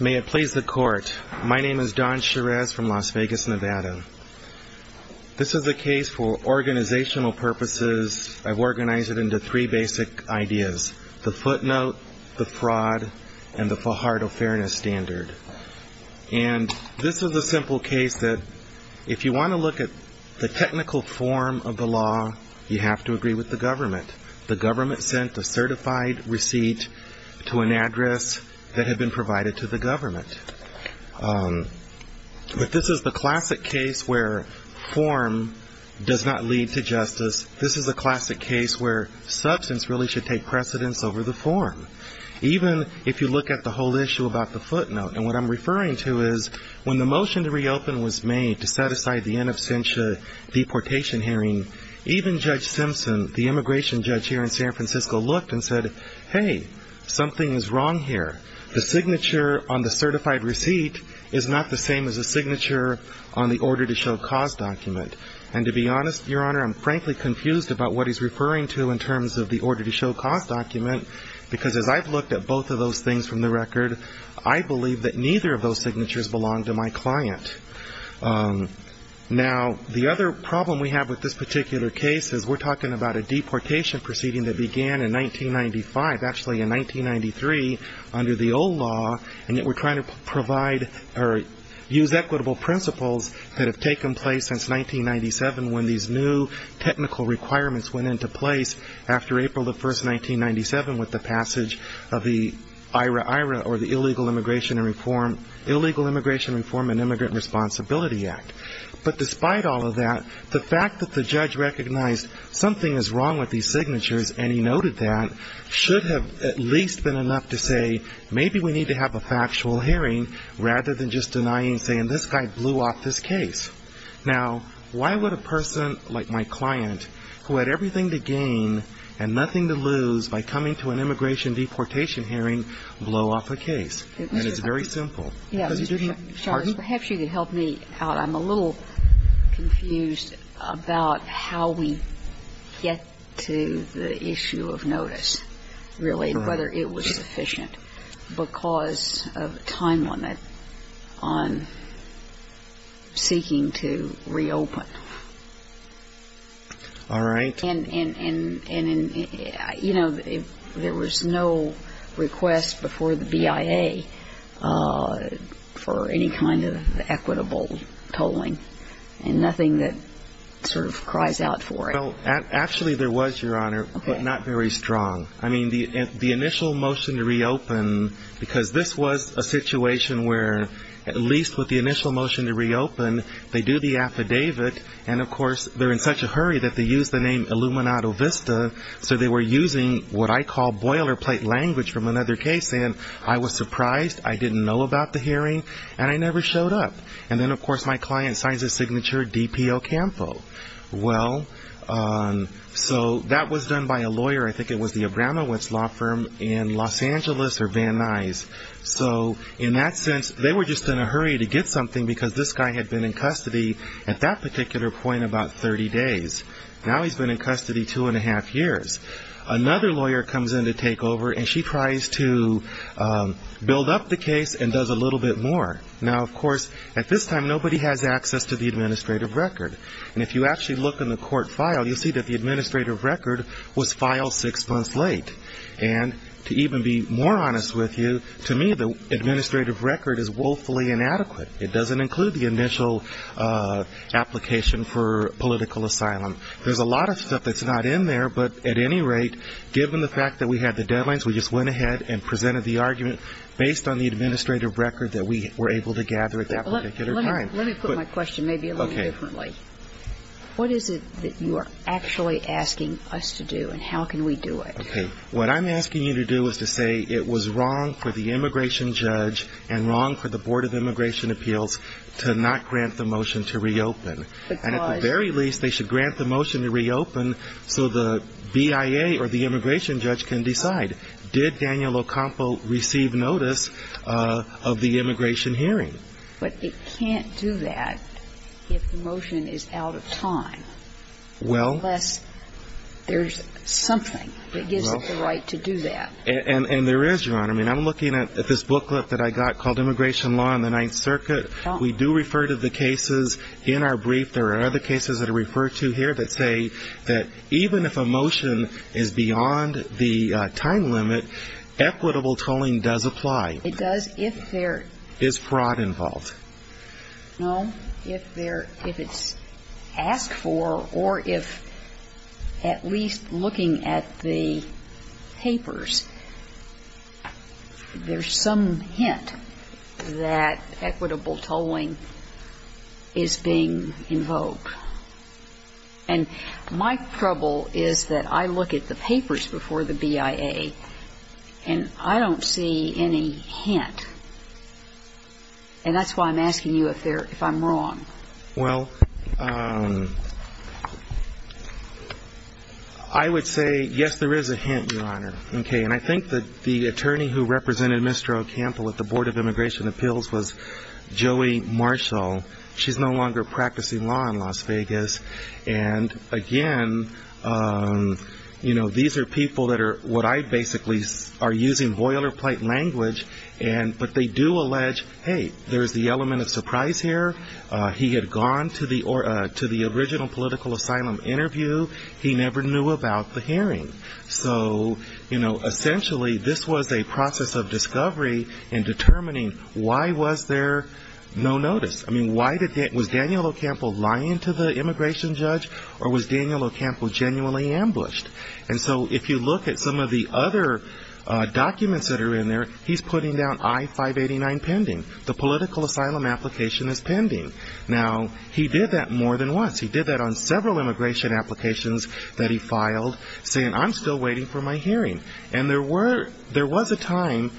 May it please the court. My name is Don Cherez from Las Vegas, Nevada. This is a case for organizational purposes. I've organized it into three basic ideas. The footnote, the fraud, and the Fajardo Fairness Standard. And this is a simple case that if you want to look at the technical form of the law, you have to agree with the government. The government sent a certified receipt to an address that had been provided to the government. But this is the classic case where form does not lead to justice. This is a classic case where substance really should take precedence over the form, even if you look at the whole issue about the footnote. And what I'm referring to is when the motion to reopen was made to set aside the in absentia deportation hearing, even Judge Simpson, the immigration judge here in San Francisco, looked and said, hey, something is wrong here. The signature on the certified receipt is not the same as the signature on the order to show cause document. And to be honest, Your Honor, I'm frankly confused about what he's referring to in terms of the order to show cause document, because as I've looked at both of those things from the record, I believe that neither of those signatures belong to my client. Now, the other problem we have with this particular case is we're talking about a deportation proceeding that began in 1995, actually in 1993 under the old law, and yet we're trying to provide or use equitable principles that have taken place since 1997 when these new technical requirements went into place after April the 1st, 1997, with the passage of the IRA-IRA or the Illegal Immigration Reform and Immigrant Responsibility Act. But despite all of that, the fact that the judge recognized something is wrong with these signatures and he noted that should have at least been enough to say maybe we need to have a factual hearing rather than just denying and saying this guy blew off this case. Now, why would a person like my client, who had everything to gain and nothing to lose by coming to an immigration deportation hearing, blow off a case? And it's very simple. Because he didn't hear parts of it. Sorry. Perhaps you could help me out. I'm a little confused about how we get to the issue of notice, really, and whether it was sufficient, because of a time limit on seeking to reopen. All right. And, you know, there was no request before the BIA for any kind of equitable tolling and nothing that sort of cries out for it. Well, actually, there was, Your Honor, but not very strong. I mean, the initial motion to reopen, because this was a situation where at least with the initial motion to reopen, they do the affidavit, and, of course, they're in such a hurry that they use the name Illuminato Vista, so they were using what I call boilerplate language from another case, and I was surprised. I didn't know about the hearing, and I never showed up. And then, of course, my client signs his signature, DPO Campo. Well, so that was done by a lawyer, I think it was the Abramowitz Law Firm in Los Angeles or Van Nuys. So in that sense, they were just in a hurry to get something, because this guy had been in custody at that particular point about 30 days. Now he's been in custody two and a half years. Another lawyer comes in to take over, and she tries to build up the case and does a little bit more. Now, of course, at this time, nobody has access to the administrative record, and if you actually look in the court file, you'll see that the administrative record was filed six months late. And to even be more honest with you, to me, the administrative record is woefully inadequate. It doesn't include the initial application for political asylum. There's a lot of stuff that's not in there, but at any rate, given the fact that we had the deadlines, we just went ahead and presented the argument based on the administrative record that we were able to gather at that particular time. Let me put my question maybe a little differently. Okay. What is it that you are actually asking us to do, and how can we do it? Okay. What I'm asking you to do is to say it was wrong for the immigration judge and wrong for the Board of Immigration Appeals to not grant the motion to reopen. Because? And at the very least, they should grant the motion to reopen so the BIA or the immigration judge can decide, did Daniel Ocampo receive notice of the immigration hearing? But it can't do that if the motion is out of time. Well? Unless there's something that gives it the right to do that. And there is, Your Honor. I mean, I'm looking at this booklet that I got called Immigration Law and the Ninth Circuit. We do refer to the cases in our brief. There are other cases that are referred to here that say that even if a motion is beyond the time limit, equitable tolling does apply. It does if there is fraud involved. No. If it's asked for or if at least looking at the papers, there's some hint that equitable tolling is being invoked. And my trouble is that I look at the papers before the BIA, and I don't see any hint. And that's why I'm asking you if I'm wrong. Well, I would say, yes, there is a hint, Your Honor. Okay. And I think that the attorney who represented Mr. Ocampo at the Board of Immigration Appeals was Joey Marshall. She's no longer practicing law in Las Vegas. And, again, you know, these are people that are what I basically are using boilerplate language. But they do allege, hey, there's the element of surprise here. He had gone to the original political asylum interview. He never knew about the hearing. So, you know, essentially this was a process of discovery in determining why was there no notice. I mean, was Daniel Ocampo lying to the immigration judge, or was Daniel Ocampo genuinely ambushed? And so if you look at some of the other documents that are in there, he's putting down I-589 pending. The political asylum application is pending. Now, he did that more than once. He did that on several immigration applications that he filed, saying, I'm still waiting for my hearing. And there was a time,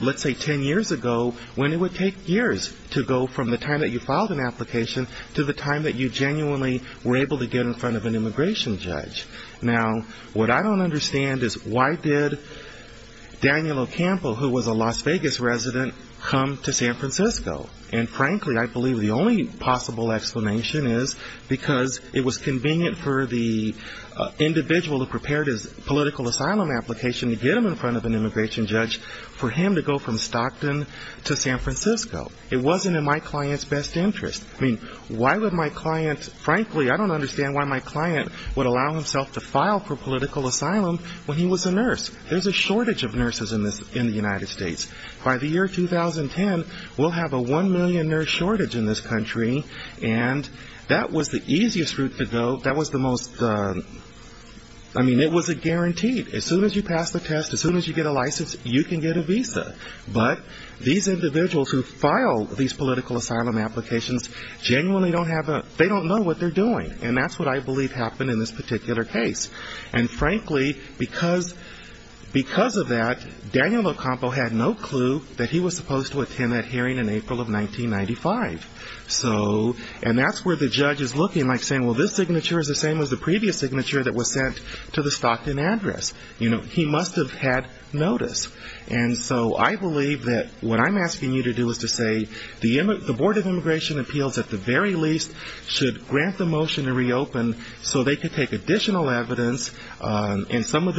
let's say 10 years ago, when it would take years to go from the time that you filed an application to the time that you genuinely were able to get in front of an immigration judge. Now, what I don't understand is why did Daniel Ocampo, who was a Las Vegas resident, come to San Francisco? And frankly, I believe the only possible explanation is because it was convenient for the individual who prepared his political asylum application to get him in front of an immigration judge for him to go from Stockton to San Francisco. It wasn't in my client's best interest. I mean, why would my client, frankly, I don't understand why my client would allow himself to file for political asylum when he was a nurse. There's a shortage of nurses in the United States. By the year 2010, we'll have a one million nurse shortage in this country, and that was the easiest route to go. That was the most, I mean, it was a guarantee. As soon as you pass the test, as soon as you get a license, you can get a visa. But these individuals who file these political asylum applications genuinely don't have a, they don't know what they're doing. And that's what I believe happened in this particular case. And frankly, because of that, Daniel Ocampo had no clue that he was supposed to attend that hearing in April of 1995. So, and that's where the judge is looking, like saying, well, this signature is the same as the previous signature that was sent to the Stockton address. You know, he must have had notice. And so I believe that what I'm asking you to do is to say, the Board of Immigration Appeals, at the very least, should grant the motion to reopen so they can take additional evidence, and that's what I'm asking you to do. And so I believe that what I'm asking you to do is to say, the Board of Immigration Appeals, at the very least, should grant the motion to reopen so they can take additional evidence, and some of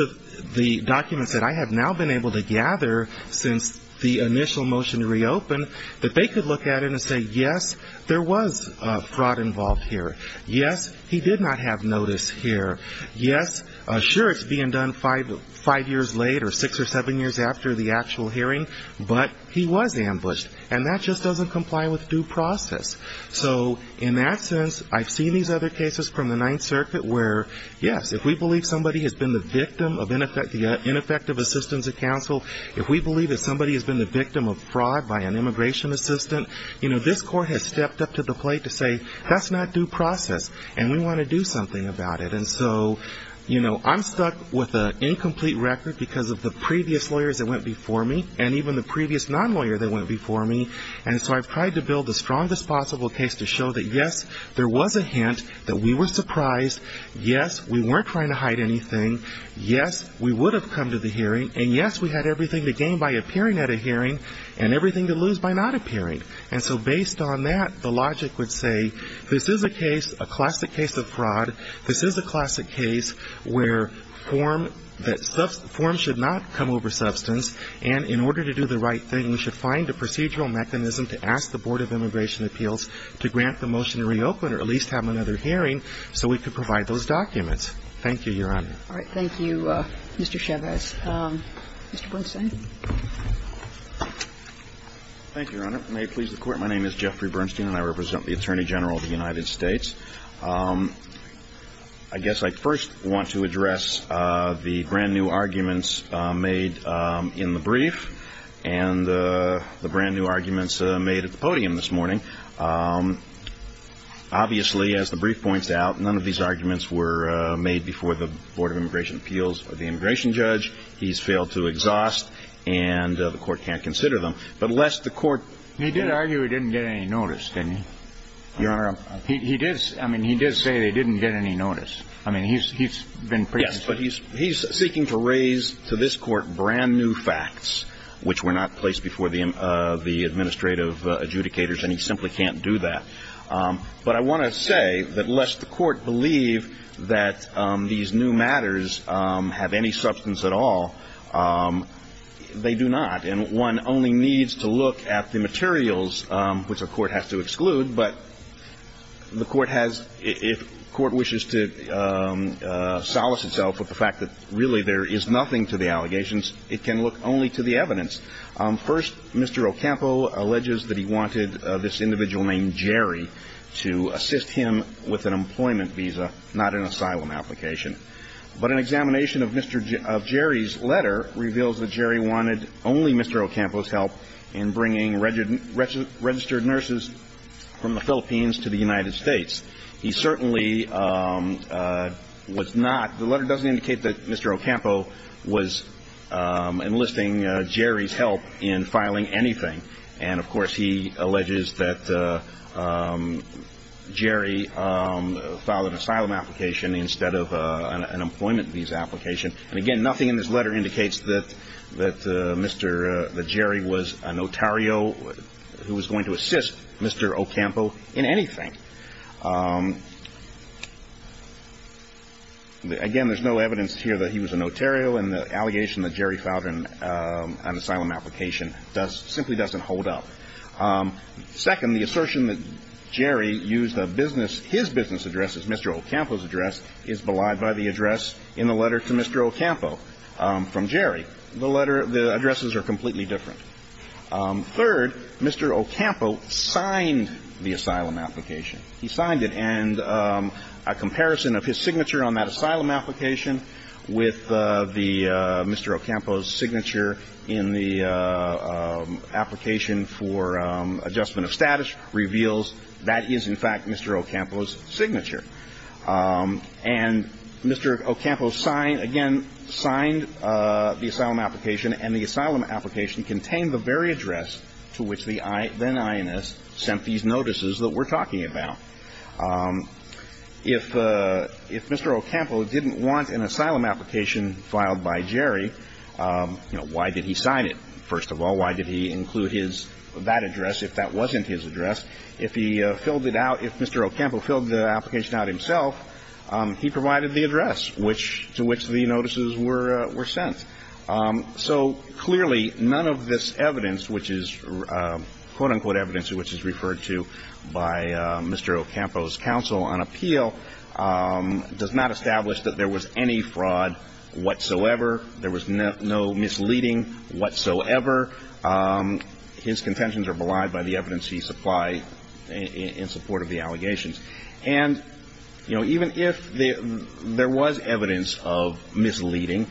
the documents that I have now been able to gather since the initial motion to reopen, that they could look at it and say, yes, there was fraud involved here. Yes, he did not have notice here. Yes, sure, it's being done five years later, six or seven years after the actual hearing, but he was ambushed. And that just doesn't comply with due process. So in that sense, I've seen these other cases from the Ninth Circuit where, yes, if we believe somebody has been the victim of ineffective assistance of counsel, if we believe that somebody has been the victim of fraud by an immigration assistant, you know, this court has stepped up to the plate to say, that's not due process, and we want to do something about it. And so, you know, I'm stuck with an incomplete record because of the previous lawyers that went before me, and even the previous non-lawyer that went before me. And so I've tried to build the strongest possible case to show that, yes, there was a hint, that we were surprised, yes, we weren't trying to hide anything, yes, we would have come to the hearing, and yes, we had everything to gain by appearing at a hearing, and everything to lose by not appearing. And so based on that, the logic would say, this is a case, a classic case of fraud, this is a classic case where form, that form should not come over substance, and in order to do the right thing, we should find a procedural mechanism to do the right thing. And so that's what we're trying to do. We're trying to find a procedural mechanism to ask the Board of Immigration Appeals to grant the motion to reopen or at least have another hearing so we could provide those documents. Thank you, Your Honor. All right. Thank you, Mr. Chavez. Mr. Bernstein. Thank you, Your Honor. May it please the Court. My name is Jeffrey Bernstein, and I represent the Attorney General of the United States. I guess I first want to address the brand-new arguments made in the brief, and the brand-new arguments made in the brief. And I guess I first want to address the brand-new arguments made in the brief, and the brand-new arguments made at the podium this morning. Obviously, as the brief points out, none of these arguments were made before the Board of Immigration Appeals or the immigration judge. He's failed to exhaust, and the Court can't consider them. But lest the Court — He did argue he didn't get any notice, didn't he? Your Honor — He did — I mean, he did say they didn't get any notice. I mean, he's been — Yes, but he's seeking to raise to this Court brand-new facts, which were not placed before the administrative adjudicators, and he simply can't do that. But I want to say that lest the Court believe that these new matters have any substance at all, they do not. And one only needs to look at the materials, which the Court has to exclude. But the Court has — if the Court wishes to solace itself with the fact that, really, there is nothing to the allegations, it can look only to the evidence. First, Mr. Ocampo alleges that he wanted this individual named Jerry to assist him with an employment visa, not an asylum application. But an examination of Jerry's letter reveals that Jerry wanted only Mr. Ocampo's help in bringing registered nurses from the Philippines to the United States. He certainly was not — the letter doesn't indicate that Mr. Ocampo was enlisting Jerry's help in filing anything. And, of course, he alleges that Jerry filed an asylum application instead of an employment visa application. And, again, nothing in this letter indicates that Mr. — that Jerry was a notario who was going to assist Mr. Ocampo in anything. Again, there's no evidence here that he was a notario, and the allegation that Jerry filed an asylum application does — simply doesn't hold up. Second, the assertion that Jerry used a business — his business address as Mr. Ocampo's address is belied by the address in the letter to Mr. Ocampo from Jerry. The letter — the addresses are completely different. Third, Mr. Ocampo signed the asylum application. He signed it. And a comparison of his signature on that asylum application with the — Mr. Ocampo's signature in the application for adjustment of status reveals that is, in fact, Mr. Ocampo's signature. And Mr. Ocampo signed — again, signed the asylum application, and the asylum application contained the very address to which the then INS sent these notices that we're talking about. If Mr. Ocampo didn't want an asylum application filed by Jerry, you know, why did he sign it, first of all? Why did he include his — that address if that wasn't his address? If he filled it out — if Mr. Ocampo filled the application out himself, he provided the address which — to which the notices were sent. So, clearly, none of this evidence, which is quote-unquote evidence, which is referred to by Mr. Ocampo's counsel on appeal, does not establish that there was any fraud whatsoever. There was no misleading whatsoever. His contentions are belied by the evidence he supplied in support of the allegations. And, you know, even if there was evidence of misleading,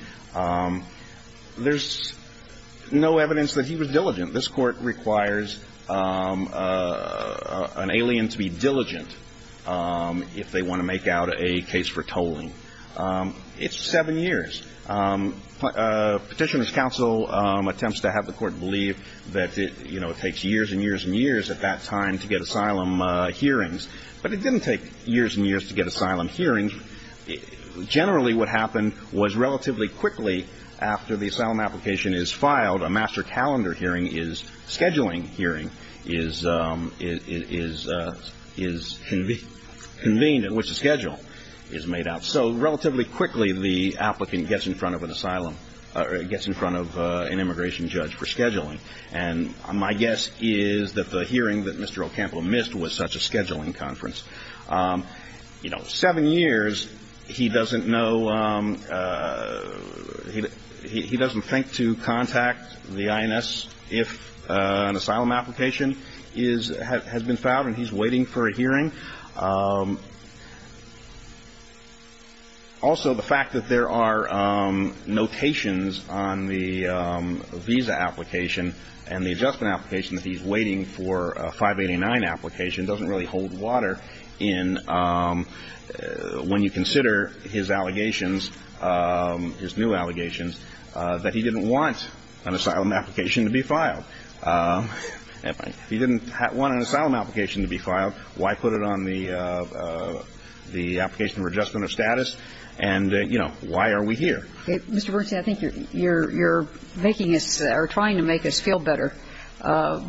there's no evidence that he was diligent. This Court requires an alien to be diligent if they want to make out a case for tolling. It's seven years. Petitioner's counsel attempts to have the Court believe that, you know, it takes years and years and years at that time to get asylum hearings. But it didn't take years and years to get asylum hearings. Generally, what happened was relatively quickly after the asylum application is filed, a master calendar hearing is — scheduling hearing is convened at which the schedule is made out. And so, relatively quickly, the applicant gets in front of an asylum — gets in front of an immigration judge for scheduling. And my guess is that the hearing that Mr. Ocampo missed was such a scheduling conference. You know, seven years, he doesn't know — he doesn't think to contact the INS if an asylum application is — has been filed and he's waiting for a hearing. Also, the fact that there are notations on the visa application and the adjustment application that he's waiting for a 589 application doesn't really hold water in — when you consider his allegations, his new allegations, that he didn't want an asylum application to be filed. He didn't want an asylum application to be filed. Why put it on the application for adjustment of status? And, you know, why are we here? Mr. Bernstein, I think you're making us — or trying to make us feel better.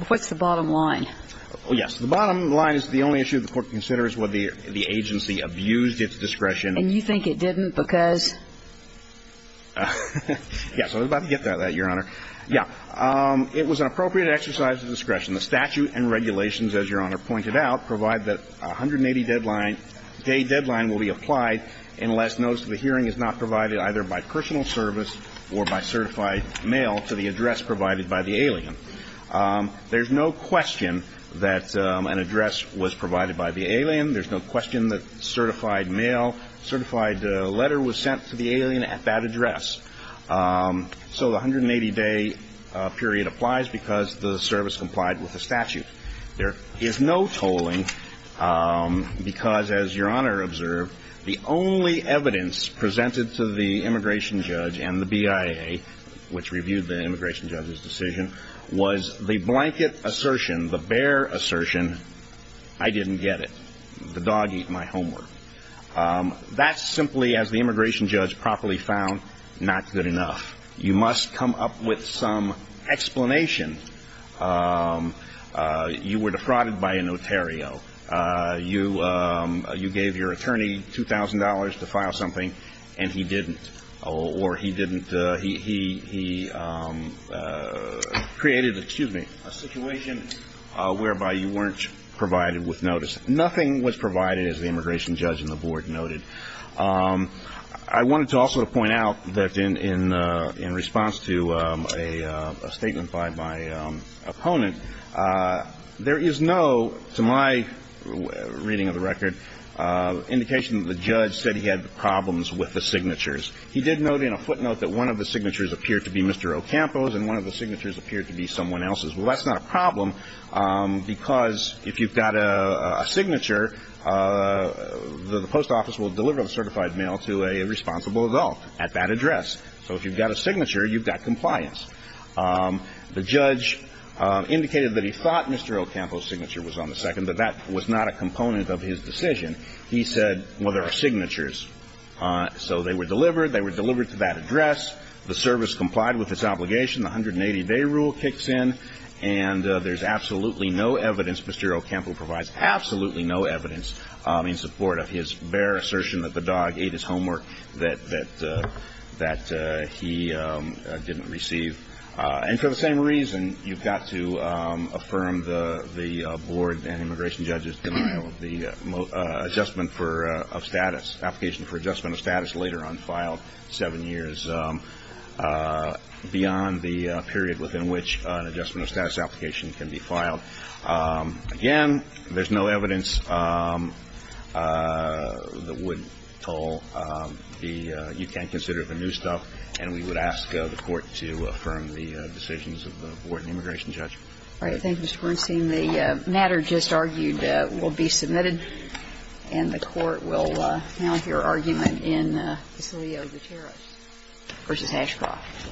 What's the bottom line? Yes. The bottom line is the only issue the Court considers was the agency abused its discretion. And you think it didn't because? Yes. I was about to get to that, Your Honor. Yeah. It was an appropriate exercise of discretion. The statute and regulations, as Your Honor pointed out, provide that a 180-day deadline will be applied unless notice of the hearing is not provided either by personal service or by certified mail to the address provided by the alien. There's no question that an address was provided by the alien. There's no question that certified mail — certified letter was sent to the alien at that address. So the 180-day period applies because the service complied with the statute. There is no tolling because, as Your Honor observed, the only evidence presented to the immigration judge and the BIA, which reviewed the immigration judge's decision, was the blanket assertion, the bare assertion, I didn't get it. The dog eat my homework. That's simply, as the immigration judge properly found, not good enough. You must come up with some explanation. You were defrauded by a notario. You gave your attorney $2,000 to file something, and he didn't. Or he didn't — he created — excuse me — a situation whereby you weren't provided with notice. Nothing was provided, as the immigration judge and the board noted. I wanted to also point out that in response to a statement by my opponent, there is no, to my reading of the record, indication that the judge said he had problems with the signatures. He did note in a footnote that one of the signatures appeared to be Mr. Ocampo's, and one of the signatures appeared to be someone else's. Well, that's not a problem, because if you've got a signature, the post office will deliver the certified mail to a responsible adult at that address. So if you've got a signature, you've got compliance. The judge indicated that he thought Mr. Ocampo's signature was on the second, but that was not a component of his decision. He said, well, there are signatures. So they were delivered. They were delivered to that address. The service complied with its obligation. The 180-day rule kicks in, and there's absolutely no evidence. Mr. Ocampo provides absolutely no evidence in support of his bare assertion that the dog ate his homework that he didn't receive. And for the same reason, you've got to affirm the board and immigration judges' denial of the adjustment of status, application for adjustment of status later on filed seven years beyond the period within which an adjustment of status application can be filed. Again, there's no evidence that would tell you can't consider the new stuff, and we would ask the court to affirm the decisions of the board and immigration judge. All right. Thank you, Mr. Bernstein. The matter just argued will be submitted, and the court will now hear argument in Casilio Gutierrez v. Ashcroft.